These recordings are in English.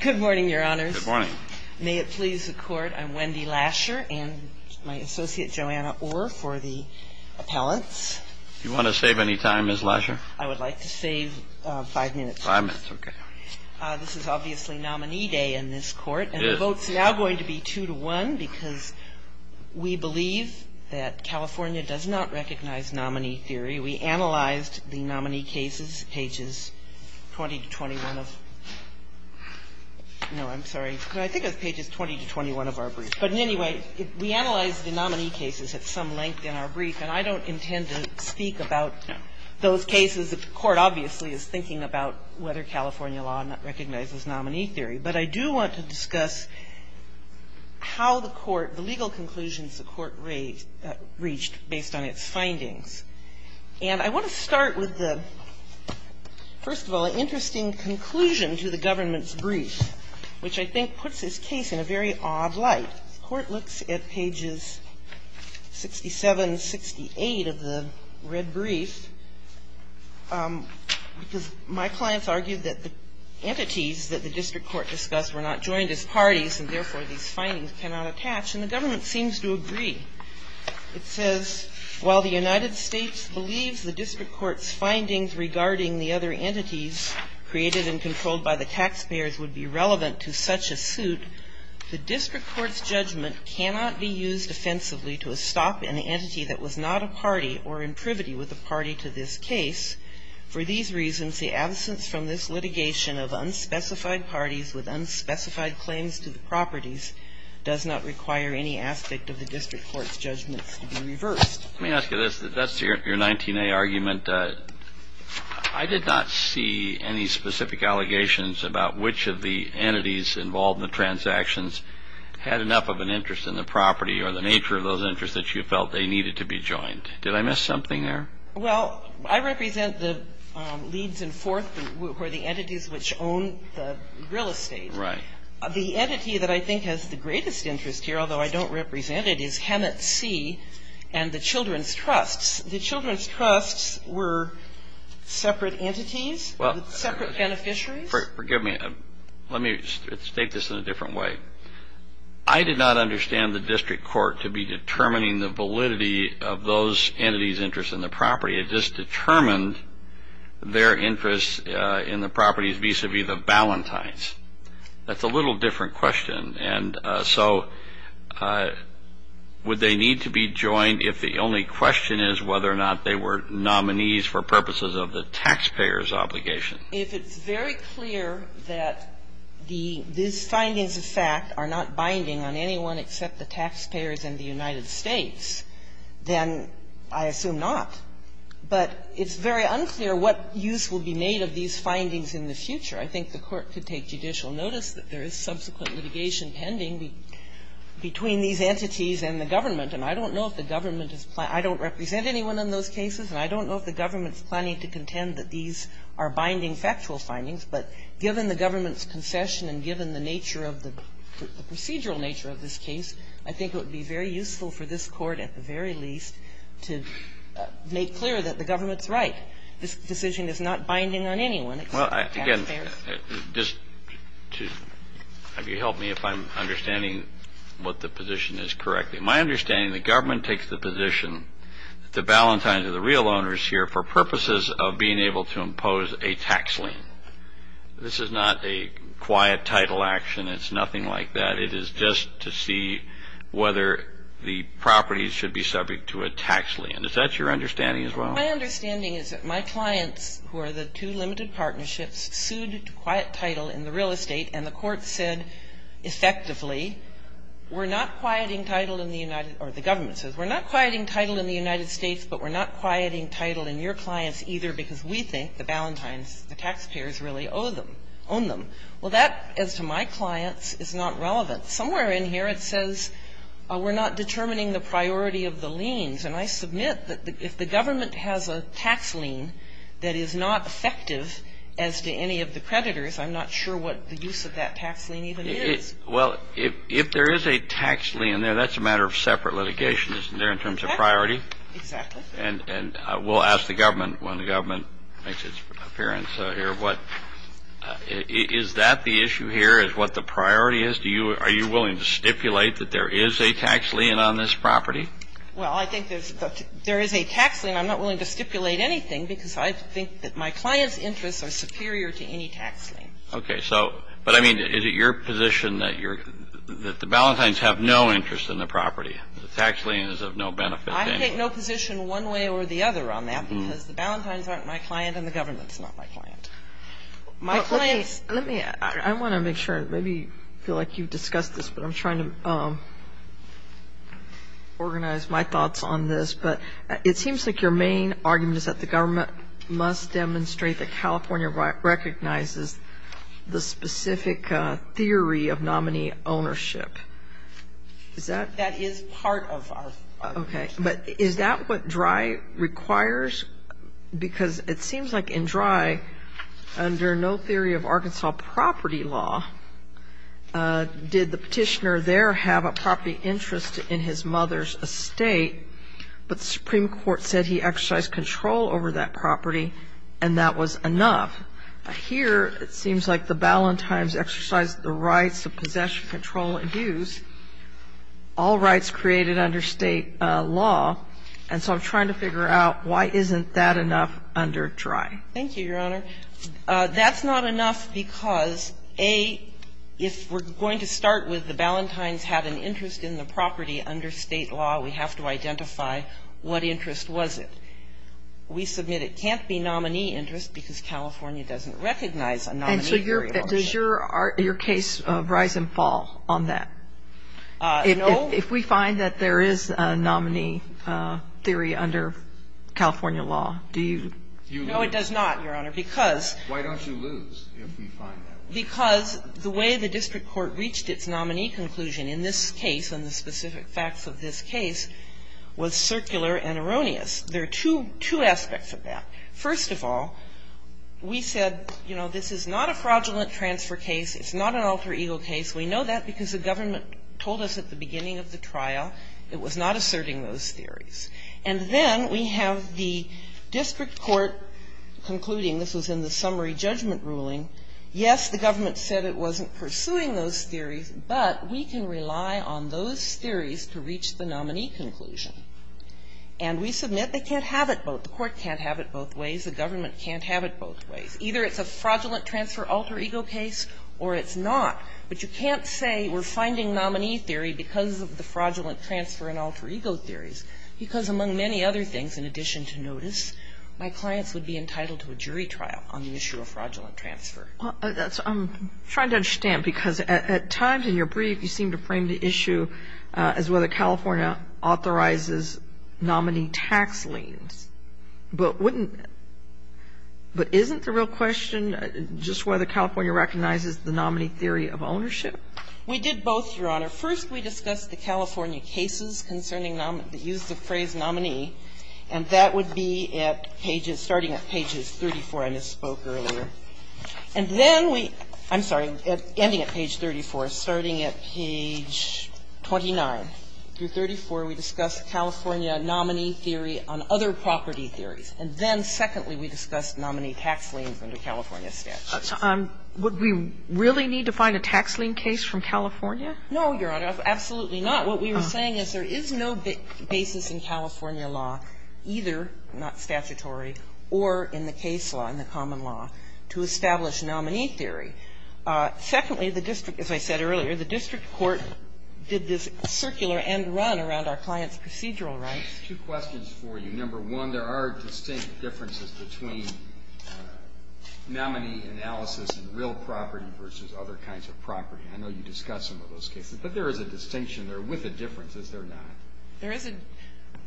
Good morning, your honors. Good morning. May it please the court, I'm Wendy Lasher and my associate Joanna Orr for the appellants. Do you want to save any time, Ms. Lasher? I would like to save five minutes. Five minutes, okay. This is obviously nominee day in this court. It is. And the vote's now going to be two to one because we believe that California does not recognize nominee theory. We analyzed the nominee cases, pages 20 to 21 of – no, I'm sorry. I think it was pages 20 to 21 of our brief. But in any way, we analyzed the nominee cases at some length in our brief. And I don't intend to speak about those cases. The court obviously is thinking about whether California law not recognizes nominee theory. But I do want to discuss how the court – the legal conclusions the court reached based on its findings. And I want to start with the – first of all, an interesting conclusion to the government's brief, which I think puts this case in a very odd light. The court looks at pages 67, 68 of the red brief because my clients argued that the entities that the district court discussed were not joined as parties and, therefore, these findings cannot attach. And the government seems to agree. It says, while the United States believes the district court's findings regarding the other entities created and controlled by the taxpayers would be relevant to such a suit, the district court's judgment cannot be used offensively to stop an entity that was not a party or in privity with a party to this case. For these reasons, the absence from this litigation of unspecified parties with unspecified claims to the properties does not require any aspect of the district court's judgments to be reversed. Let me ask you this. That's your 19A argument. I did not see any specific allegations about which of the entities involved in the transactions had enough of an interest in the property or the nature of those interests that you felt they needed to be joined. Did I miss something there? Well, I represent the Leeds and Forth who are the entities which own the real estate. Right. The entity that I think has the greatest interest here, although I don't represent it, is Hemet C. and the Children's Trusts. The Children's Trusts were separate entities? Separate beneficiaries? Forgive me. Let me state this in a different way. I did not understand the district court to be determining the validity of those entities' interest in the property. It just determined their interest in the properties vis-à-vis the Ballantynes. That's a little different question. And so would they need to be joined if the only question is whether or not they were nominees for purposes of the taxpayer's obligation? If it's very clear that these findings of fact are not binding on anyone except the taxpayers and the United States, then I assume not. But it's very unclear what use will be made of these findings in the future. I think the Court could take judicial notice that there is subsequent litigation pending between these entities and the government, and I don't know if the government is planning to do that. I don't represent anyone in those cases, and I don't know if the government is planning to contend that these are binding factual findings. But given the government's concession and given the nature of the procedural nature of this case, I think it would be very useful for this Court, at the very least, to make clear that the government's right. This decision is not binding on anyone except the taxpayers. Again, just to have you help me if I'm understanding what the position is correctly. My understanding, the government takes the position that the Valentines are the real owners here for purposes of being able to impose a tax lien. This is not a quiet title action. It's nothing like that. It is just to see whether the properties should be subject to a tax lien. Is that your understanding as well? My understanding is that my clients, who are the two limited partnerships, sued quiet title in the real estate, and the Court said effectively, we're not quieting title in the United or the government says, we're not quieting title in the United States, but we're not quieting title in your clients either because we think the Valentines, the taxpayers, really owe them, own them. Well, that, as to my clients, is not relevant. Somewhere in here it says we're not determining the priority of the liens. And I submit that if the government has a tax lien that is not effective, as to any of the creditors, I'm not sure what the use of that tax lien even is. Well, if there is a tax lien there, that's a matter of separate litigation, isn't there, in terms of priority? Exactly. And we'll ask the government when the government makes its appearance here. Is that the issue here, is what the priority is? Are you willing to stipulate that there is a tax lien on this property? Well, I think there is a tax lien. I'm not willing to stipulate anything because I think that my client's interests are superior to any tax lien. Okay. So, but I mean, is it your position that you're – that the Valentines have no interest in the property? The tax lien is of no benefit to anybody. I take no position one way or the other on that because the Valentines aren't my client and the government's not my client. My client's – Let me – I want to make sure. Maybe I feel like you've discussed this, but I'm trying to organize my thoughts on this. But it seems like your main argument is that the government must demonstrate that California recognizes the specific theory of nominee ownership. Is that – That is part of our – Okay. But is that what DREI requires? Because it seems like in DREI, under no theory of Arkansas property law, did the petitioner there have a property interest in his mother's estate, but the Supreme Court said he exercised control over that property and that was enough. Here it seems like the Valentines exercised the rights of possession, control, and use, all rights created under state law. And so I'm trying to figure out why isn't that enough under DREI? Thank you, Your Honor. That's not enough because, A, if we're going to start with the Valentines had an interest in the property under state law, we have to identify what interest was it. We submit it can't be nominee interest because California doesn't recognize a nominee theory of ownership. And so does your case rise and fall on that? No. If we find that there is a nominee theory under California law, do you – No, it does not, Your Honor, because – Why don't you lose if we find that? Because the way the district court reached its nominee conclusion in this case and the specific facts of this case was circular and erroneous. There are two aspects of that. First of all, we said, you know, this is not a fraudulent transfer case. It's not an alter ego case. We know that because the government told us at the beginning of the trial it was not asserting those theories. And then we have the district court concluding, this was in the summary judgment ruling, yes, the government said it wasn't pursuing those theories, but we can rely on those theories to reach the nominee conclusion. And we submit they can't have it both. The court can't have it both ways. The government can't have it both ways. Either it's a fraudulent transfer alter ego case or it's not. But you can't say we're finding nominee theory because of the fraudulent transfer and alter ego theories, because among many other things, in addition to notice, my clients would be entitled to a jury trial on the issue of fraudulent transfer. I'm trying to understand, because at times in your brief you seem to frame the issue as whether California authorizes nominee tax liens. But isn't the real question just whether California recognizes the nominee theory of ownership? We did both, Your Honor. First we discussed the California cases concerning the use of the phrase nominee, and that would be at pages, starting at pages 34 I misspoke earlier. And then we, I'm sorry, ending at page 34, starting at page 29 through 34, we discussed California nominee theory on other property theories. And then, secondly, we discussed nominee tax liens under California statutes. Would we really need to find a tax lien case from California? No, Your Honor. Absolutely not. What we were saying is there is no basis in California law, either not statutory or in the case law, in the common law, to establish nominee theory. Secondly, the district, as I said earlier, the district court did this circular and run around our client's procedural rights. Two questions for you. Number one, there are distinct differences between nominee analysis in real property versus other kinds of property. I know you discussed some of those cases, but there is a distinction there with the differences there not. There is a,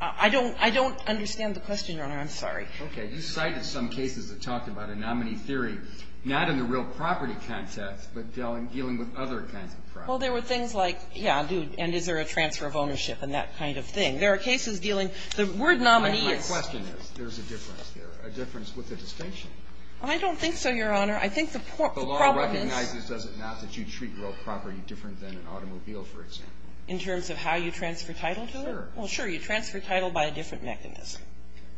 I don't understand the question, Your Honor. I'm sorry. Okay. You cited some cases that talked about a nominee theory, not in the real property context, but dealing with other kinds of property. Well, there were things like, yeah, and is there a transfer of ownership and that kind of thing. There are cases dealing, the word nominee is. My question is, there's a difference there, a difference with a distinction. I don't think so, Your Honor. I think the problem is. The law recognizes, does it not, that you treat real property different than an automobile, for example. In terms of how you transfer title to it? Sure. Well, sure, you transfer title by a different mechanism.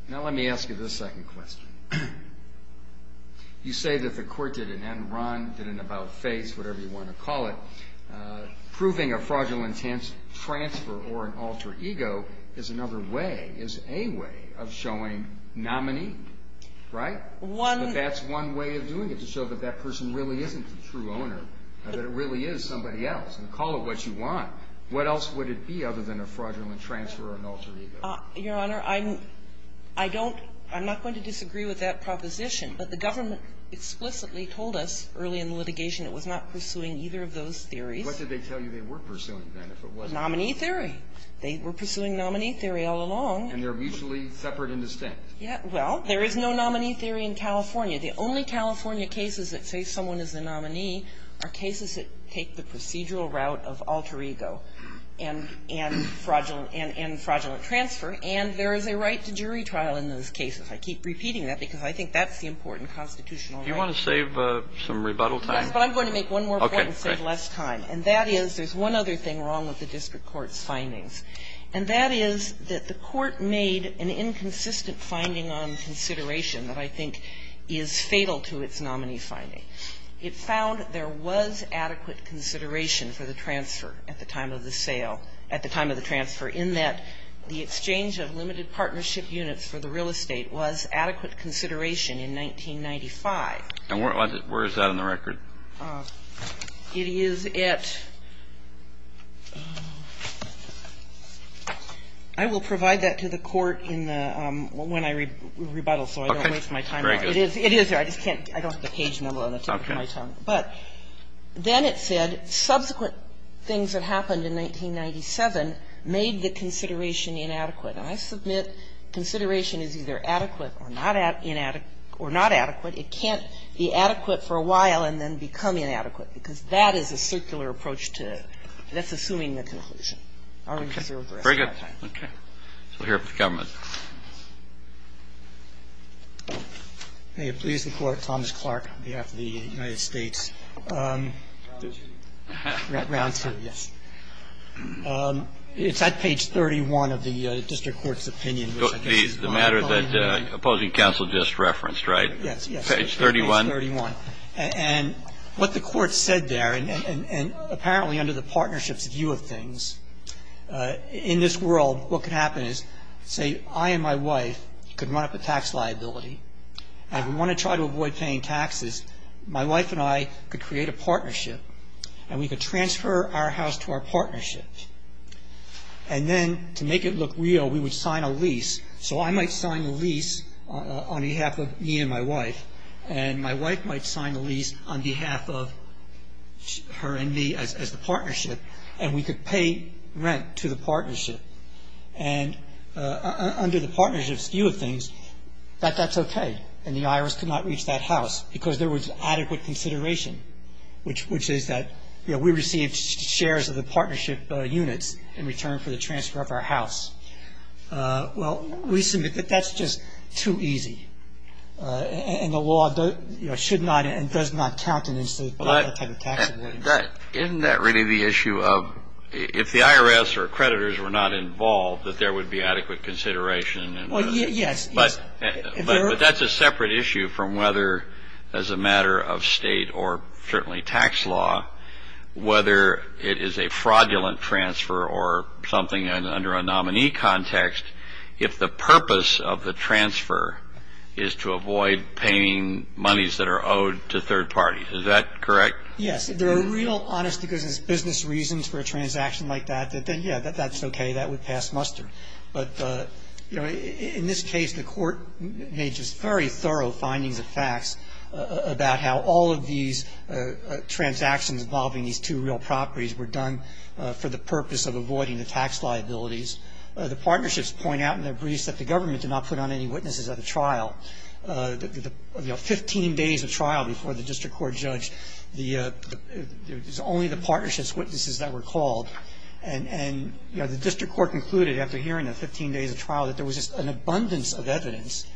Now, let me ask you this second question. You say that the Court did an end-run, did an about-face, whatever you want to call it, proving a fraudulent transfer or an alter ego is another way, is a way of showing nominee, right? One. But that's one way of doing it, to show that that person really isn't the true owner, that it really is somebody else. Call it what you want. What else would it be other than a fraudulent transfer or an alter ego? Your Honor, I'm, I don't, I'm not going to disagree with that proposition, but the government explicitly told us early in the litigation it was not pursuing either of those theories. What did they tell you they were pursuing, then, if it wasn't? Nominee theory. They were pursuing nominee theory all along. And they're mutually separate and distinct. Yeah. Well, there is no nominee theory in California. The only California cases that say someone is the nominee are cases that take the procedural route of alter ego and, and fraudulent, and, and fraudulent transfer, and there is a right to jury trial in those cases. I keep repeating that because I think that's the important constitutional Do you want to save some rebuttal time? But I'm going to make one more point and save less time. And that is there's one other thing wrong with the district court's findings, and that is that the court made an inconsistent finding on consideration that I think is fatal to its nominee finding. It found there was adequate consideration for the transfer at the time of the sale at the time of the transfer in that the exchange of limited partnership units for the real estate was adequate consideration in 1995. And where is that in the record? It is at, I will provide that to the court in the, when I rebuttal so I don't waste my time. Okay. Very good. It is there. I just can't, I don't have the page number on the tip of my tongue. Okay. But then it said subsequent things that happened in 1997 made the consideration inadequate. And I submit consideration is either adequate or not inadequate, or not adequate. It can't be adequate for a while and then become inadequate, because that is a circular approach to it. That's assuming the conclusion. Okay. Very good. Okay. We'll hear from the government. May it please the Court. Thomas Clark on behalf of the United States. Round two. Round two, yes. It's at page 31 of the district court's opinion. The matter that opposing counsel just referenced, right? Page 31. Page 31. And what the court said there, and apparently under the partnership's view of things, in this world what could happen is, say, I and my wife could run up a tax liability, and we want to try to avoid paying taxes. My wife and I could create a partnership, and we could transfer our house to our partnership. And then to make it look real, we would sign a lease. So I might sign a lease on behalf of me and my wife, and my wife might sign a lease on behalf of her and me as the partnership, and we could pay rent to the partnership. And under the partnership's view of things, that's okay. And the IRS could not reach that house, because there was adequate consideration, which is that we received shares of the partnership units in return for the transfer of our house. Well, we submit that that's just too easy, and the law should not and does not count in this case. Isn't that really the issue of if the IRS or creditors were not involved, that there would be adequate consideration? Well, yes. But that's a separate issue from whether as a matter of state or certainly tax law, whether it is a fraudulent transfer or something under a nominee context, if the purpose of the transfer is to avoid paying monies that are owed to third parties. Is that correct? Yes. If they're real honest business reasons for a transaction like that, then, yeah, that's okay. That would pass muster. But, you know, in this case, the Court made just very thorough findings of facts about how all of these transactions involving these two real properties were done for the purpose of avoiding the tax liabilities. The partnerships point out in their briefs that the government did not put on any witnesses at the trial. You know, 15 days of trial before the district court judged, it was only the partnerships' witnesses that were called. And, you know, the district court concluded after hearing the 15 days of trial that there was just an abundance of evidence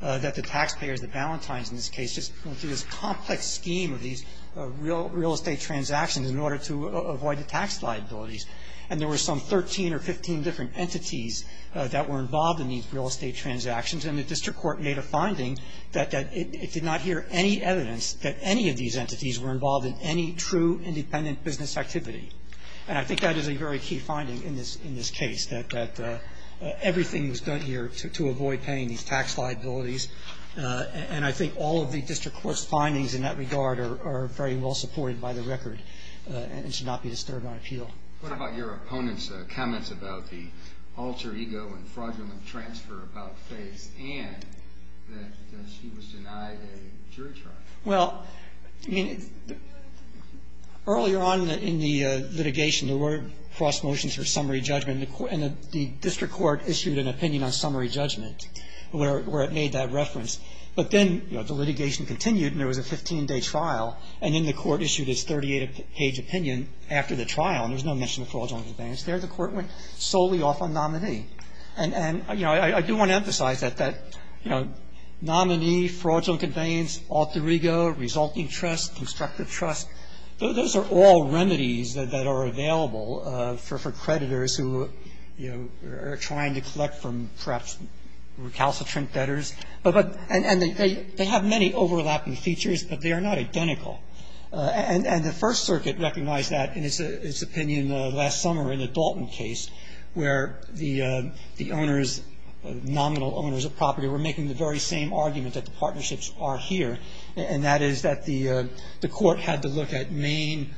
that the taxpayers, the Ballantynes in this case, just went through this complex scheme of these real estate transactions in order to avoid the tax liabilities. And there were some 13 or 15 different entities that were involved in these real estate transactions. And the district court made a finding that it did not hear any evidence that any of these entities were involved in any true independent business activity. And I think that is a very key finding in this case, that everything was done here to avoid paying these tax liabilities. And I think all of the district court's findings in that regard are very well supported by the record and should not be disturbed on appeal. What about your opponent's comments about the alter ego and fraudulent transfer about Faith's aunt, that she was denied a jury trial? Well, I mean, earlier on in the litigation, there were cross motions for summary judgment. And the district court issued an opinion on summary judgment where it made that reference. But then, you know, the litigation continued, and there was a 15-day trial. And then the court issued its 38-page opinion after the trial, and there was no mention of fraudulent conveyance. There the court went solely off on nominee. And, you know, I do want to emphasize that, you know, nominee, fraudulent conveyance, alter ego, resulting trust, constructive trust, those are all remedies that are available for creditors who, you know, are trying to collect from perhaps recalcitrant debtors. And they have many overlapping features, but they are not identical. And the First Circuit recognized that in its opinion last summer in the Dalton case where the owners, nominal owners of property were making the very same argument that the partnerships are here, and that is that the court had to look at main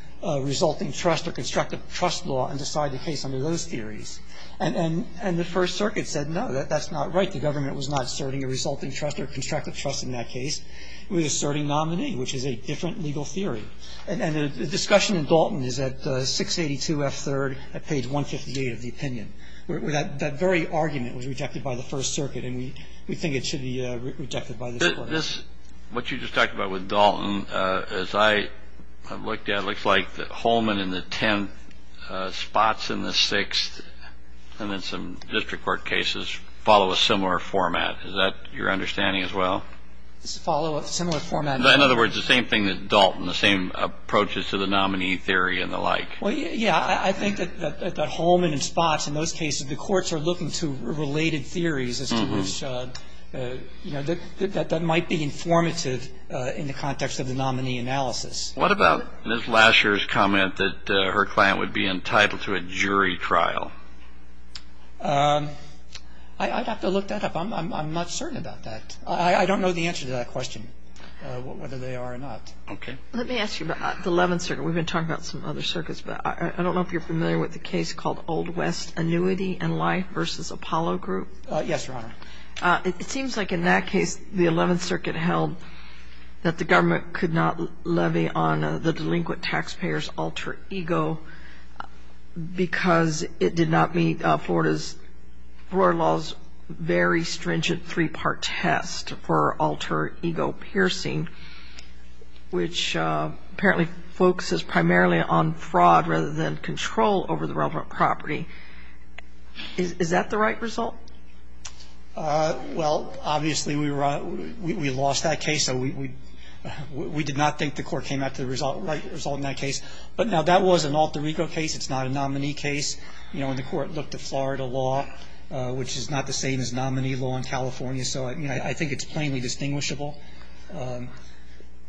resulting trust or constructive trust law and decide the case under those theories. And the First Circuit said, no, that's not right. The government was not asserting a resulting trust or constructive trust in that case. It was asserting nominee, which is a different legal theory. And the discussion in Dalton is at 682F3rd at page 158 of the opinion. That very argument was rejected by the First Circuit, and we think it should be rejected by the court. This, what you just talked about with Dalton, as I have looked at, looks like that Holman and the tenth spots in the sixth and then some district court cases follow a similar format. Is that your understanding as well? Follow a similar format. In other words, the same thing that Dalton, the same approaches to the nominee theory and the like. Well, yeah. I think that Holman and spots in those cases, the courts are looking to related theories as to which, you know, that might be informative in the context of the nominee analysis. What about Ms. Lasher's comment that her client would be entitled to a jury trial? I'd have to look that up. I'm not certain about that. I don't know the answer to that question, whether they are or not. Okay. Let me ask you about the Eleventh Circuit. Yes, Your Honor. It seems like in that case, the Eleventh Circuit held that the government could not levy on the delinquent taxpayer's alter ego because it did not meet Florida's very stringent three-part test for alter ego piercing, which apparently focuses primarily on fraud rather than control over the relevant property. Is that the right result? Well, obviously, we lost that case. So we did not think the court came out with the right result in that case. But, no, that was an alter ego case. It's not a nominee case. You know, and the court looked at Florida law, which is not the same as nominee law in California. So, I mean, I think it's plainly distinguishable.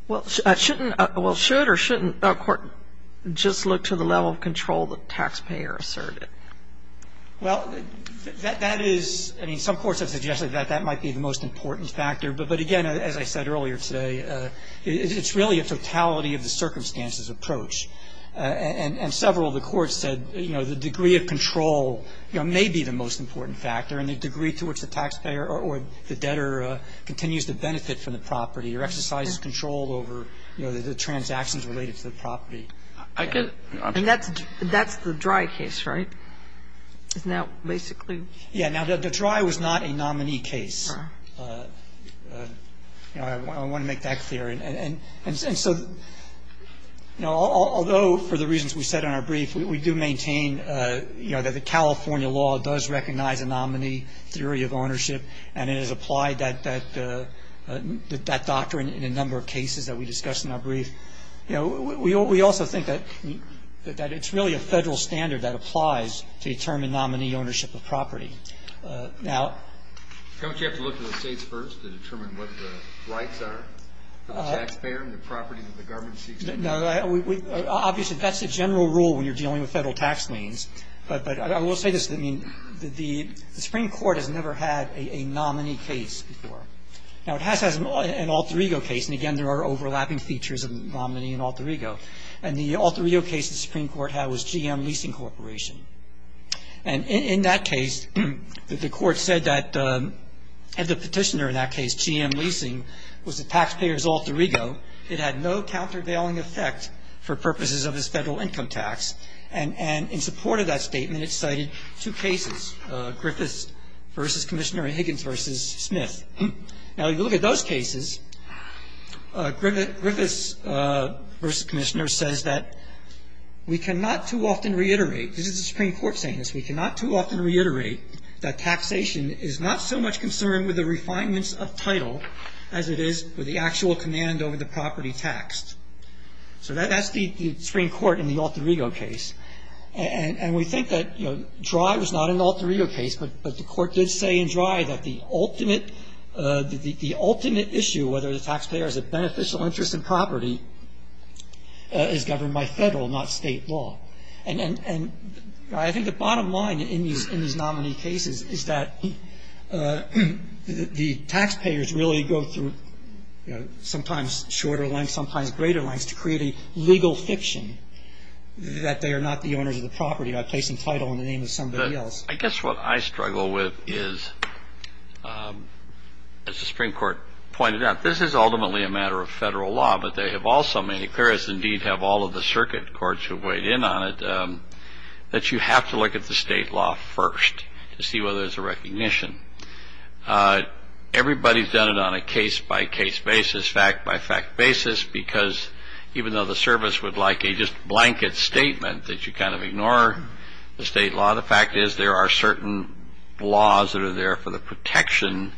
Well, shouldn't or shouldn't a court just look to the level of control the taxpayer asserted? Well, that is – I mean, some courts have suggested that that might be the most important factor. But, again, as I said earlier today, it's really a totality of the circumstances approach. And several of the courts said, you know, the degree of control may be the most important factor, and the degree to which the taxpayer or the debtor continues to benefit from the property or exercises control over, you know, the transactions related to the property. And that's the Drey case, right? It's now basically – Yeah. Now, the Drey was not a nominee case. You know, I want to make that clear. And so, you know, although for the reasons we said in our brief, we do maintain, you know, that the California law does recognize a nominee theory of ownership and it has applied that doctrine in a number of cases that we discussed in our brief. You know, we also think that it's really a federal standard that applies to determine nominee ownership of property. Now – Don't you have to look to the states first to determine what the rights are for the taxpayer and the property that the government seeks? No. Obviously, that's the general rule when you're dealing with federal tax means. But I will say this. I mean, the Supreme Court has never had a nominee case before. Now, it has had an Alter Ego case. And again, there are overlapping features of nominee and Alter Ego. And the Alter Ego case the Supreme Court had was GM Leasing Corporation. And in that case, the court said that the petitioner in that case, GM Leasing, was the taxpayer's Alter Ego. It had no countervailing effect for purposes of his federal income tax. And in support of that statement, it cited two cases, Griffiths v. Commissioner Higgins v. Smith. Now, you look at those cases, Griffiths v. Commissioner says that we cannot too often reiterate – this is the Supreme Court saying this – we cannot too often reiterate that taxation is not so much concerned with the refinements of title as it is with the actual command over the property taxed. So that's the Supreme Court in the Alter Ego case. And we think that Dry was not an Alter Ego case, but the court did say in Dry that the ultimate issue, whether the taxpayer has a beneficial interest in property, is governed by federal, not state, law. And I think the bottom line in these nominee cases is that the taxpayers really go through sometimes shorter lengths, sometimes greater lengths, to create a legal fiction that they are not the owners of the property by placing title in the name of somebody else. I guess what I struggle with is, as the Supreme Court pointed out, this is ultimately a matter of federal law, but they have also made it clear, as indeed have all of the circuit courts who have weighed in on it, that you have to look at the state law first to see whether there's a recognition. Everybody's done it on a case-by-case basis, fact-by-fact basis, because even though the service would like a just blanket statement that you kind of ignore the state law, the fact is there are certain laws that are there for the protection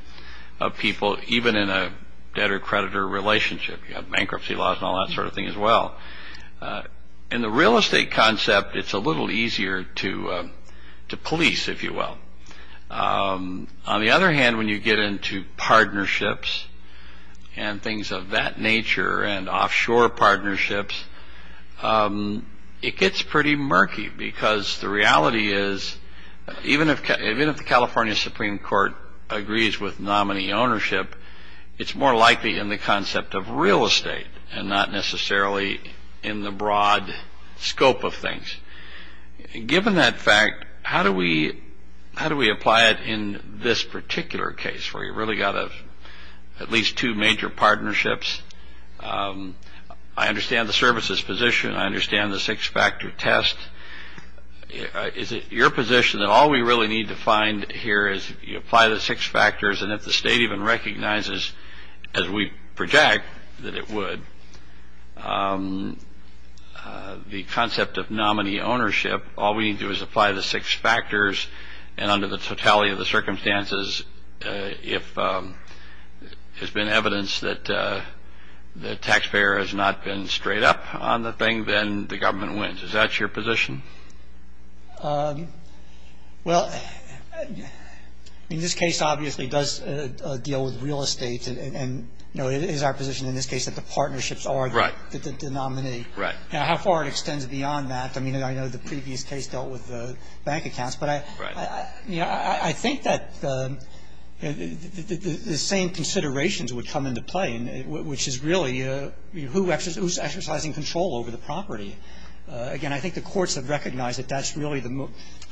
of people even in a debtor-creditor relationship. You have bankruptcy laws and all that sort of thing as well. In the real estate concept, it's a little easier to police, if you will. On the other hand, when you get into partnerships and things of that nature and offshore partnerships, it gets pretty murky because the reality is, even if the California Supreme Court agrees with nominee ownership, it's more likely in the concept of real estate and not necessarily in the broad scope of things. Given that fact, how do we apply it in this particular case, where you've really got at least two major partnerships? I understand the service's position. I understand the six-factor test. Is it your position that all we really need to find here is if you apply the six factors and if the state even recognizes as we project that it would, the concept of nominee ownership, all we need to do is apply the six factors and under the totality of the circumstances, if there's been evidence that the taxpayer has not been straight up on the thing, then the government wins. Is that your position? Well, in this case, obviously, it does deal with real estate and it is our position in this case that the partnerships are the nominee. How far it extends beyond that, I mean, I know the previous case dealt with bank accounts, but I think that the same considerations would come into play, which is really who's exercising control over the property. Again, I think the courts have recognized that that's really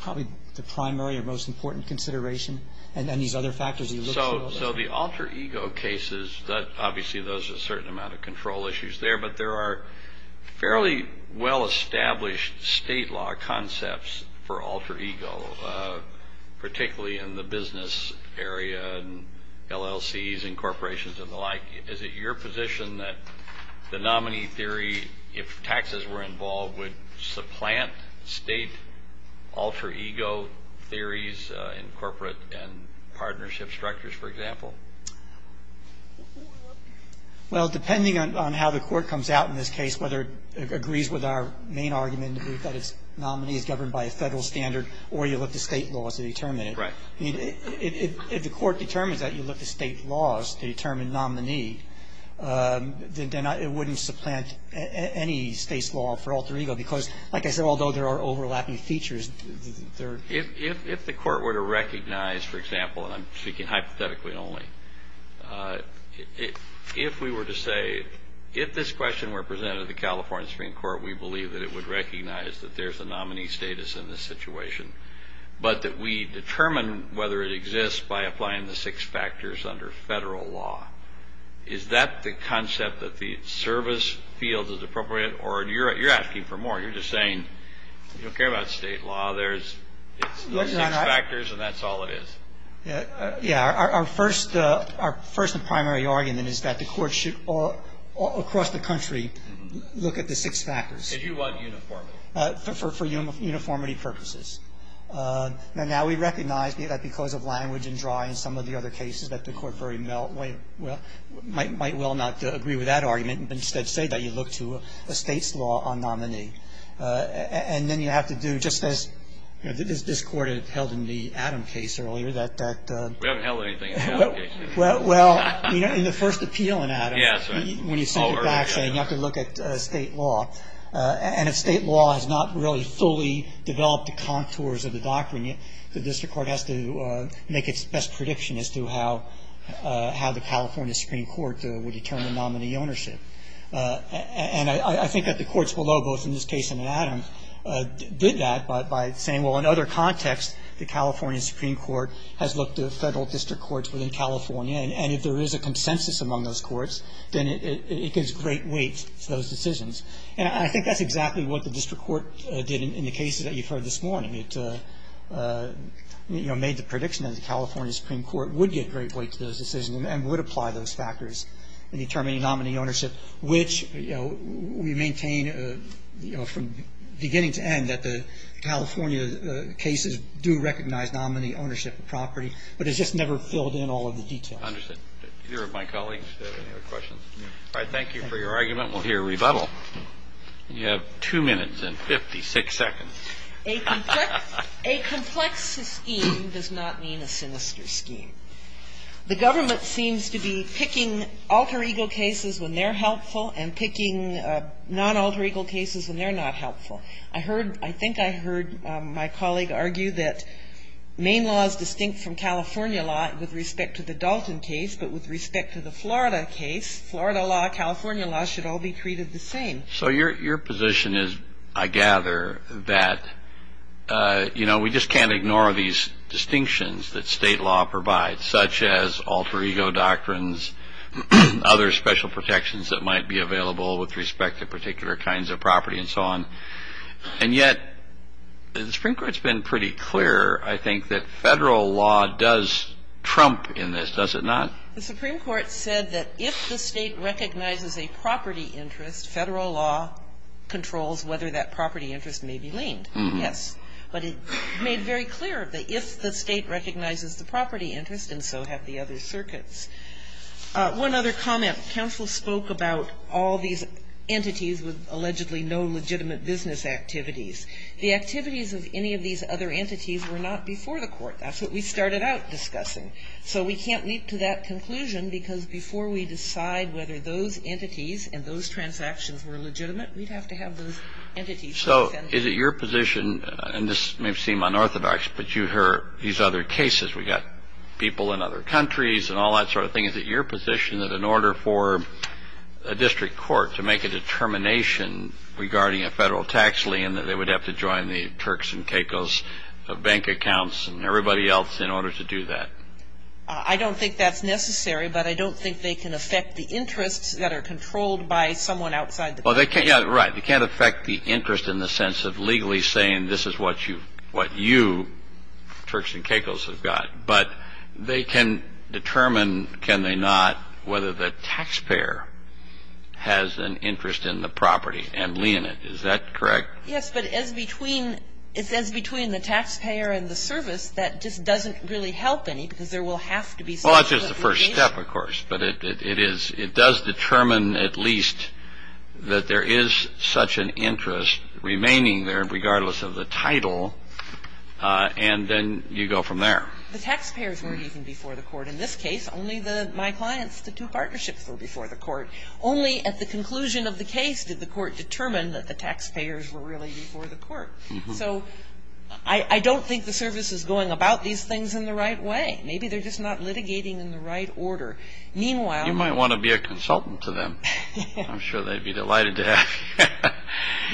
probably the primary or most important consideration and these other factors. So the alter ego cases, obviously there's a certain amount of control issues there, but there are fairly well-established state law concepts for alter ego, particularly in the business area and LLCs and corporations and the like. Is it your position that the nominee theory, if taxes were involved, would supplant state alter ego theories in corporate and partnership structures, for example? Well, depending on how the court comes out in this case, whether it agrees with our main argument that a nominee is governed by a federal standard or you look to state laws to determine it. Right. I mean, if the court determines that you look to state laws to determine nominee, then it wouldn't supplant any state's law for alter ego because, like I said, although there are overlapping features. If the court were to recognize, for example, and I'm speaking hypothetically only, if we were to say if this question were presented to the California Supreme Court, we believe that it would recognize that there's a nominee status in this situation, but that we determine whether it exists by applying the six factors under federal law. Is that the concept that the service field is appropriate? Or you're asking for more. You're just saying you don't care about state law. There's six factors, and that's all it is. Yeah. Our first primary argument is that the court should all across the country look at the six factors. Because you want uniformity. For uniformity purposes. And now we recognize that because of language and drawing, some of the other cases that the court might well not agree with that argument but instead say that you look to a state's law on nominee. And then you have to do just as this court held in the Adam case earlier. We haven't held anything in the Adam case. Well, in the first appeal in Adam, when you send it back, you have to look at state law. And if state law has not really fully developed the contours of the doctrine yet, the district court has to make its best prediction as to how the California Supreme Court would determine nominee ownership. And I think that the courts below, both in this case and in Adam, did that by saying, well, in other contexts, the California Supreme Court has looked at federal district courts within California, and if there is a consensus among those courts, then it gives great weight to those decisions. And I think that's exactly what the district court did in the cases that you've heard this morning. It, you know, made the prediction that the California Supreme Court would get great weight to those decisions and would apply those factors in determining nominee ownership, which, you know, we maintain, you know, from beginning to end that the California cases do recognize nominee ownership of property, but it's just never filled in all of the detail. I understand. All right. Thank you for your argument. We'll hear rebuttal. You have two minutes and 56 seconds. A complex scheme does not mean a sinister scheme. The government seems to be picking alter ego cases when they're helpful and picking non-alter ego cases when they're not helpful. I heard, I think I heard my colleague argue that Maine law is distinct from California law with respect to the Dalton case, but with respect to the Florida case, Florida law, California law should all be treated the same. So your position is, I gather, that, you know, we just can't ignore these distinctions that state law provides, such as alter ego doctrines, other special protections that might be available with respect to particular kinds of property and so on. And yet the Supreme Court's been pretty clear, I think, that federal law does trump in this, does it not? The Supreme Court said that if the state recognizes a property interest, federal law controls whether that property interest may be leaned. Yes. But it made very clear that if the state recognizes the property interest, and so have the other circuits. One other comment. Counsel spoke about all these entities with allegedly no legitimate business activities. The activities of any of these other entities were not before the Court. That's what we started out discussing. So we can't leap to that conclusion, because before we decide whether those entities and those transactions were legitimate, we'd have to have those entities. So is it your position, and this may seem unorthodox, but you heard these other cases. We got people in other countries and all that sort of thing. Is it your position that in order for a district court to make a determination regarding a federal tax lien, that they would have to join the Turks and Caicos of bank accounts and I don't think that's necessary, but I don't think they can affect the interests that are controlled by someone outside the country. Right. They can't affect the interest in the sense of legally saying this is what you, Turks and Caicos, have got. But they can determine, can they not, whether the taxpayer has an interest in the property and lien it. Is that correct? Yes. But as between the taxpayer and the service, that just doesn't really help any because there will have to be some sort of engagement. Well, it's just the first step, of course. But it does determine at least that there is such an interest remaining there, regardless of the title, and then you go from there. The taxpayers were even before the court. In this case, only my clients, the two partnerships, were before the court. Only at the conclusion of the case did the court determine that the taxpayers were really before the court. So I don't think the service is going about these things in the right way. Maybe they're just not litigating in the right order. Meanwhile. You might want to be a consultant to them. I'm sure they'd be delighted to have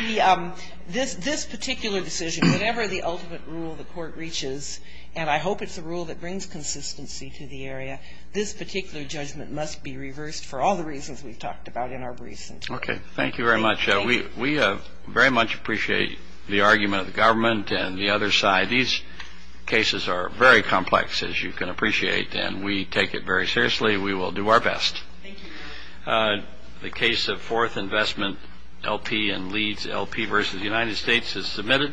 you. This particular decision, whatever the ultimate rule the court reaches, and I hope it's a rule that brings consistency to the area, this particular judgment must be reversed for all the reasons we've talked about in our briefs. Okay. Thank you very much. We very much appreciate the argument of the government and the other side. These cases are very complex, as you can appreciate, and we take it very seriously. We will do our best. Thank you. The case of Fourth Investment, LP and Leeds, LP versus the United States is submitted.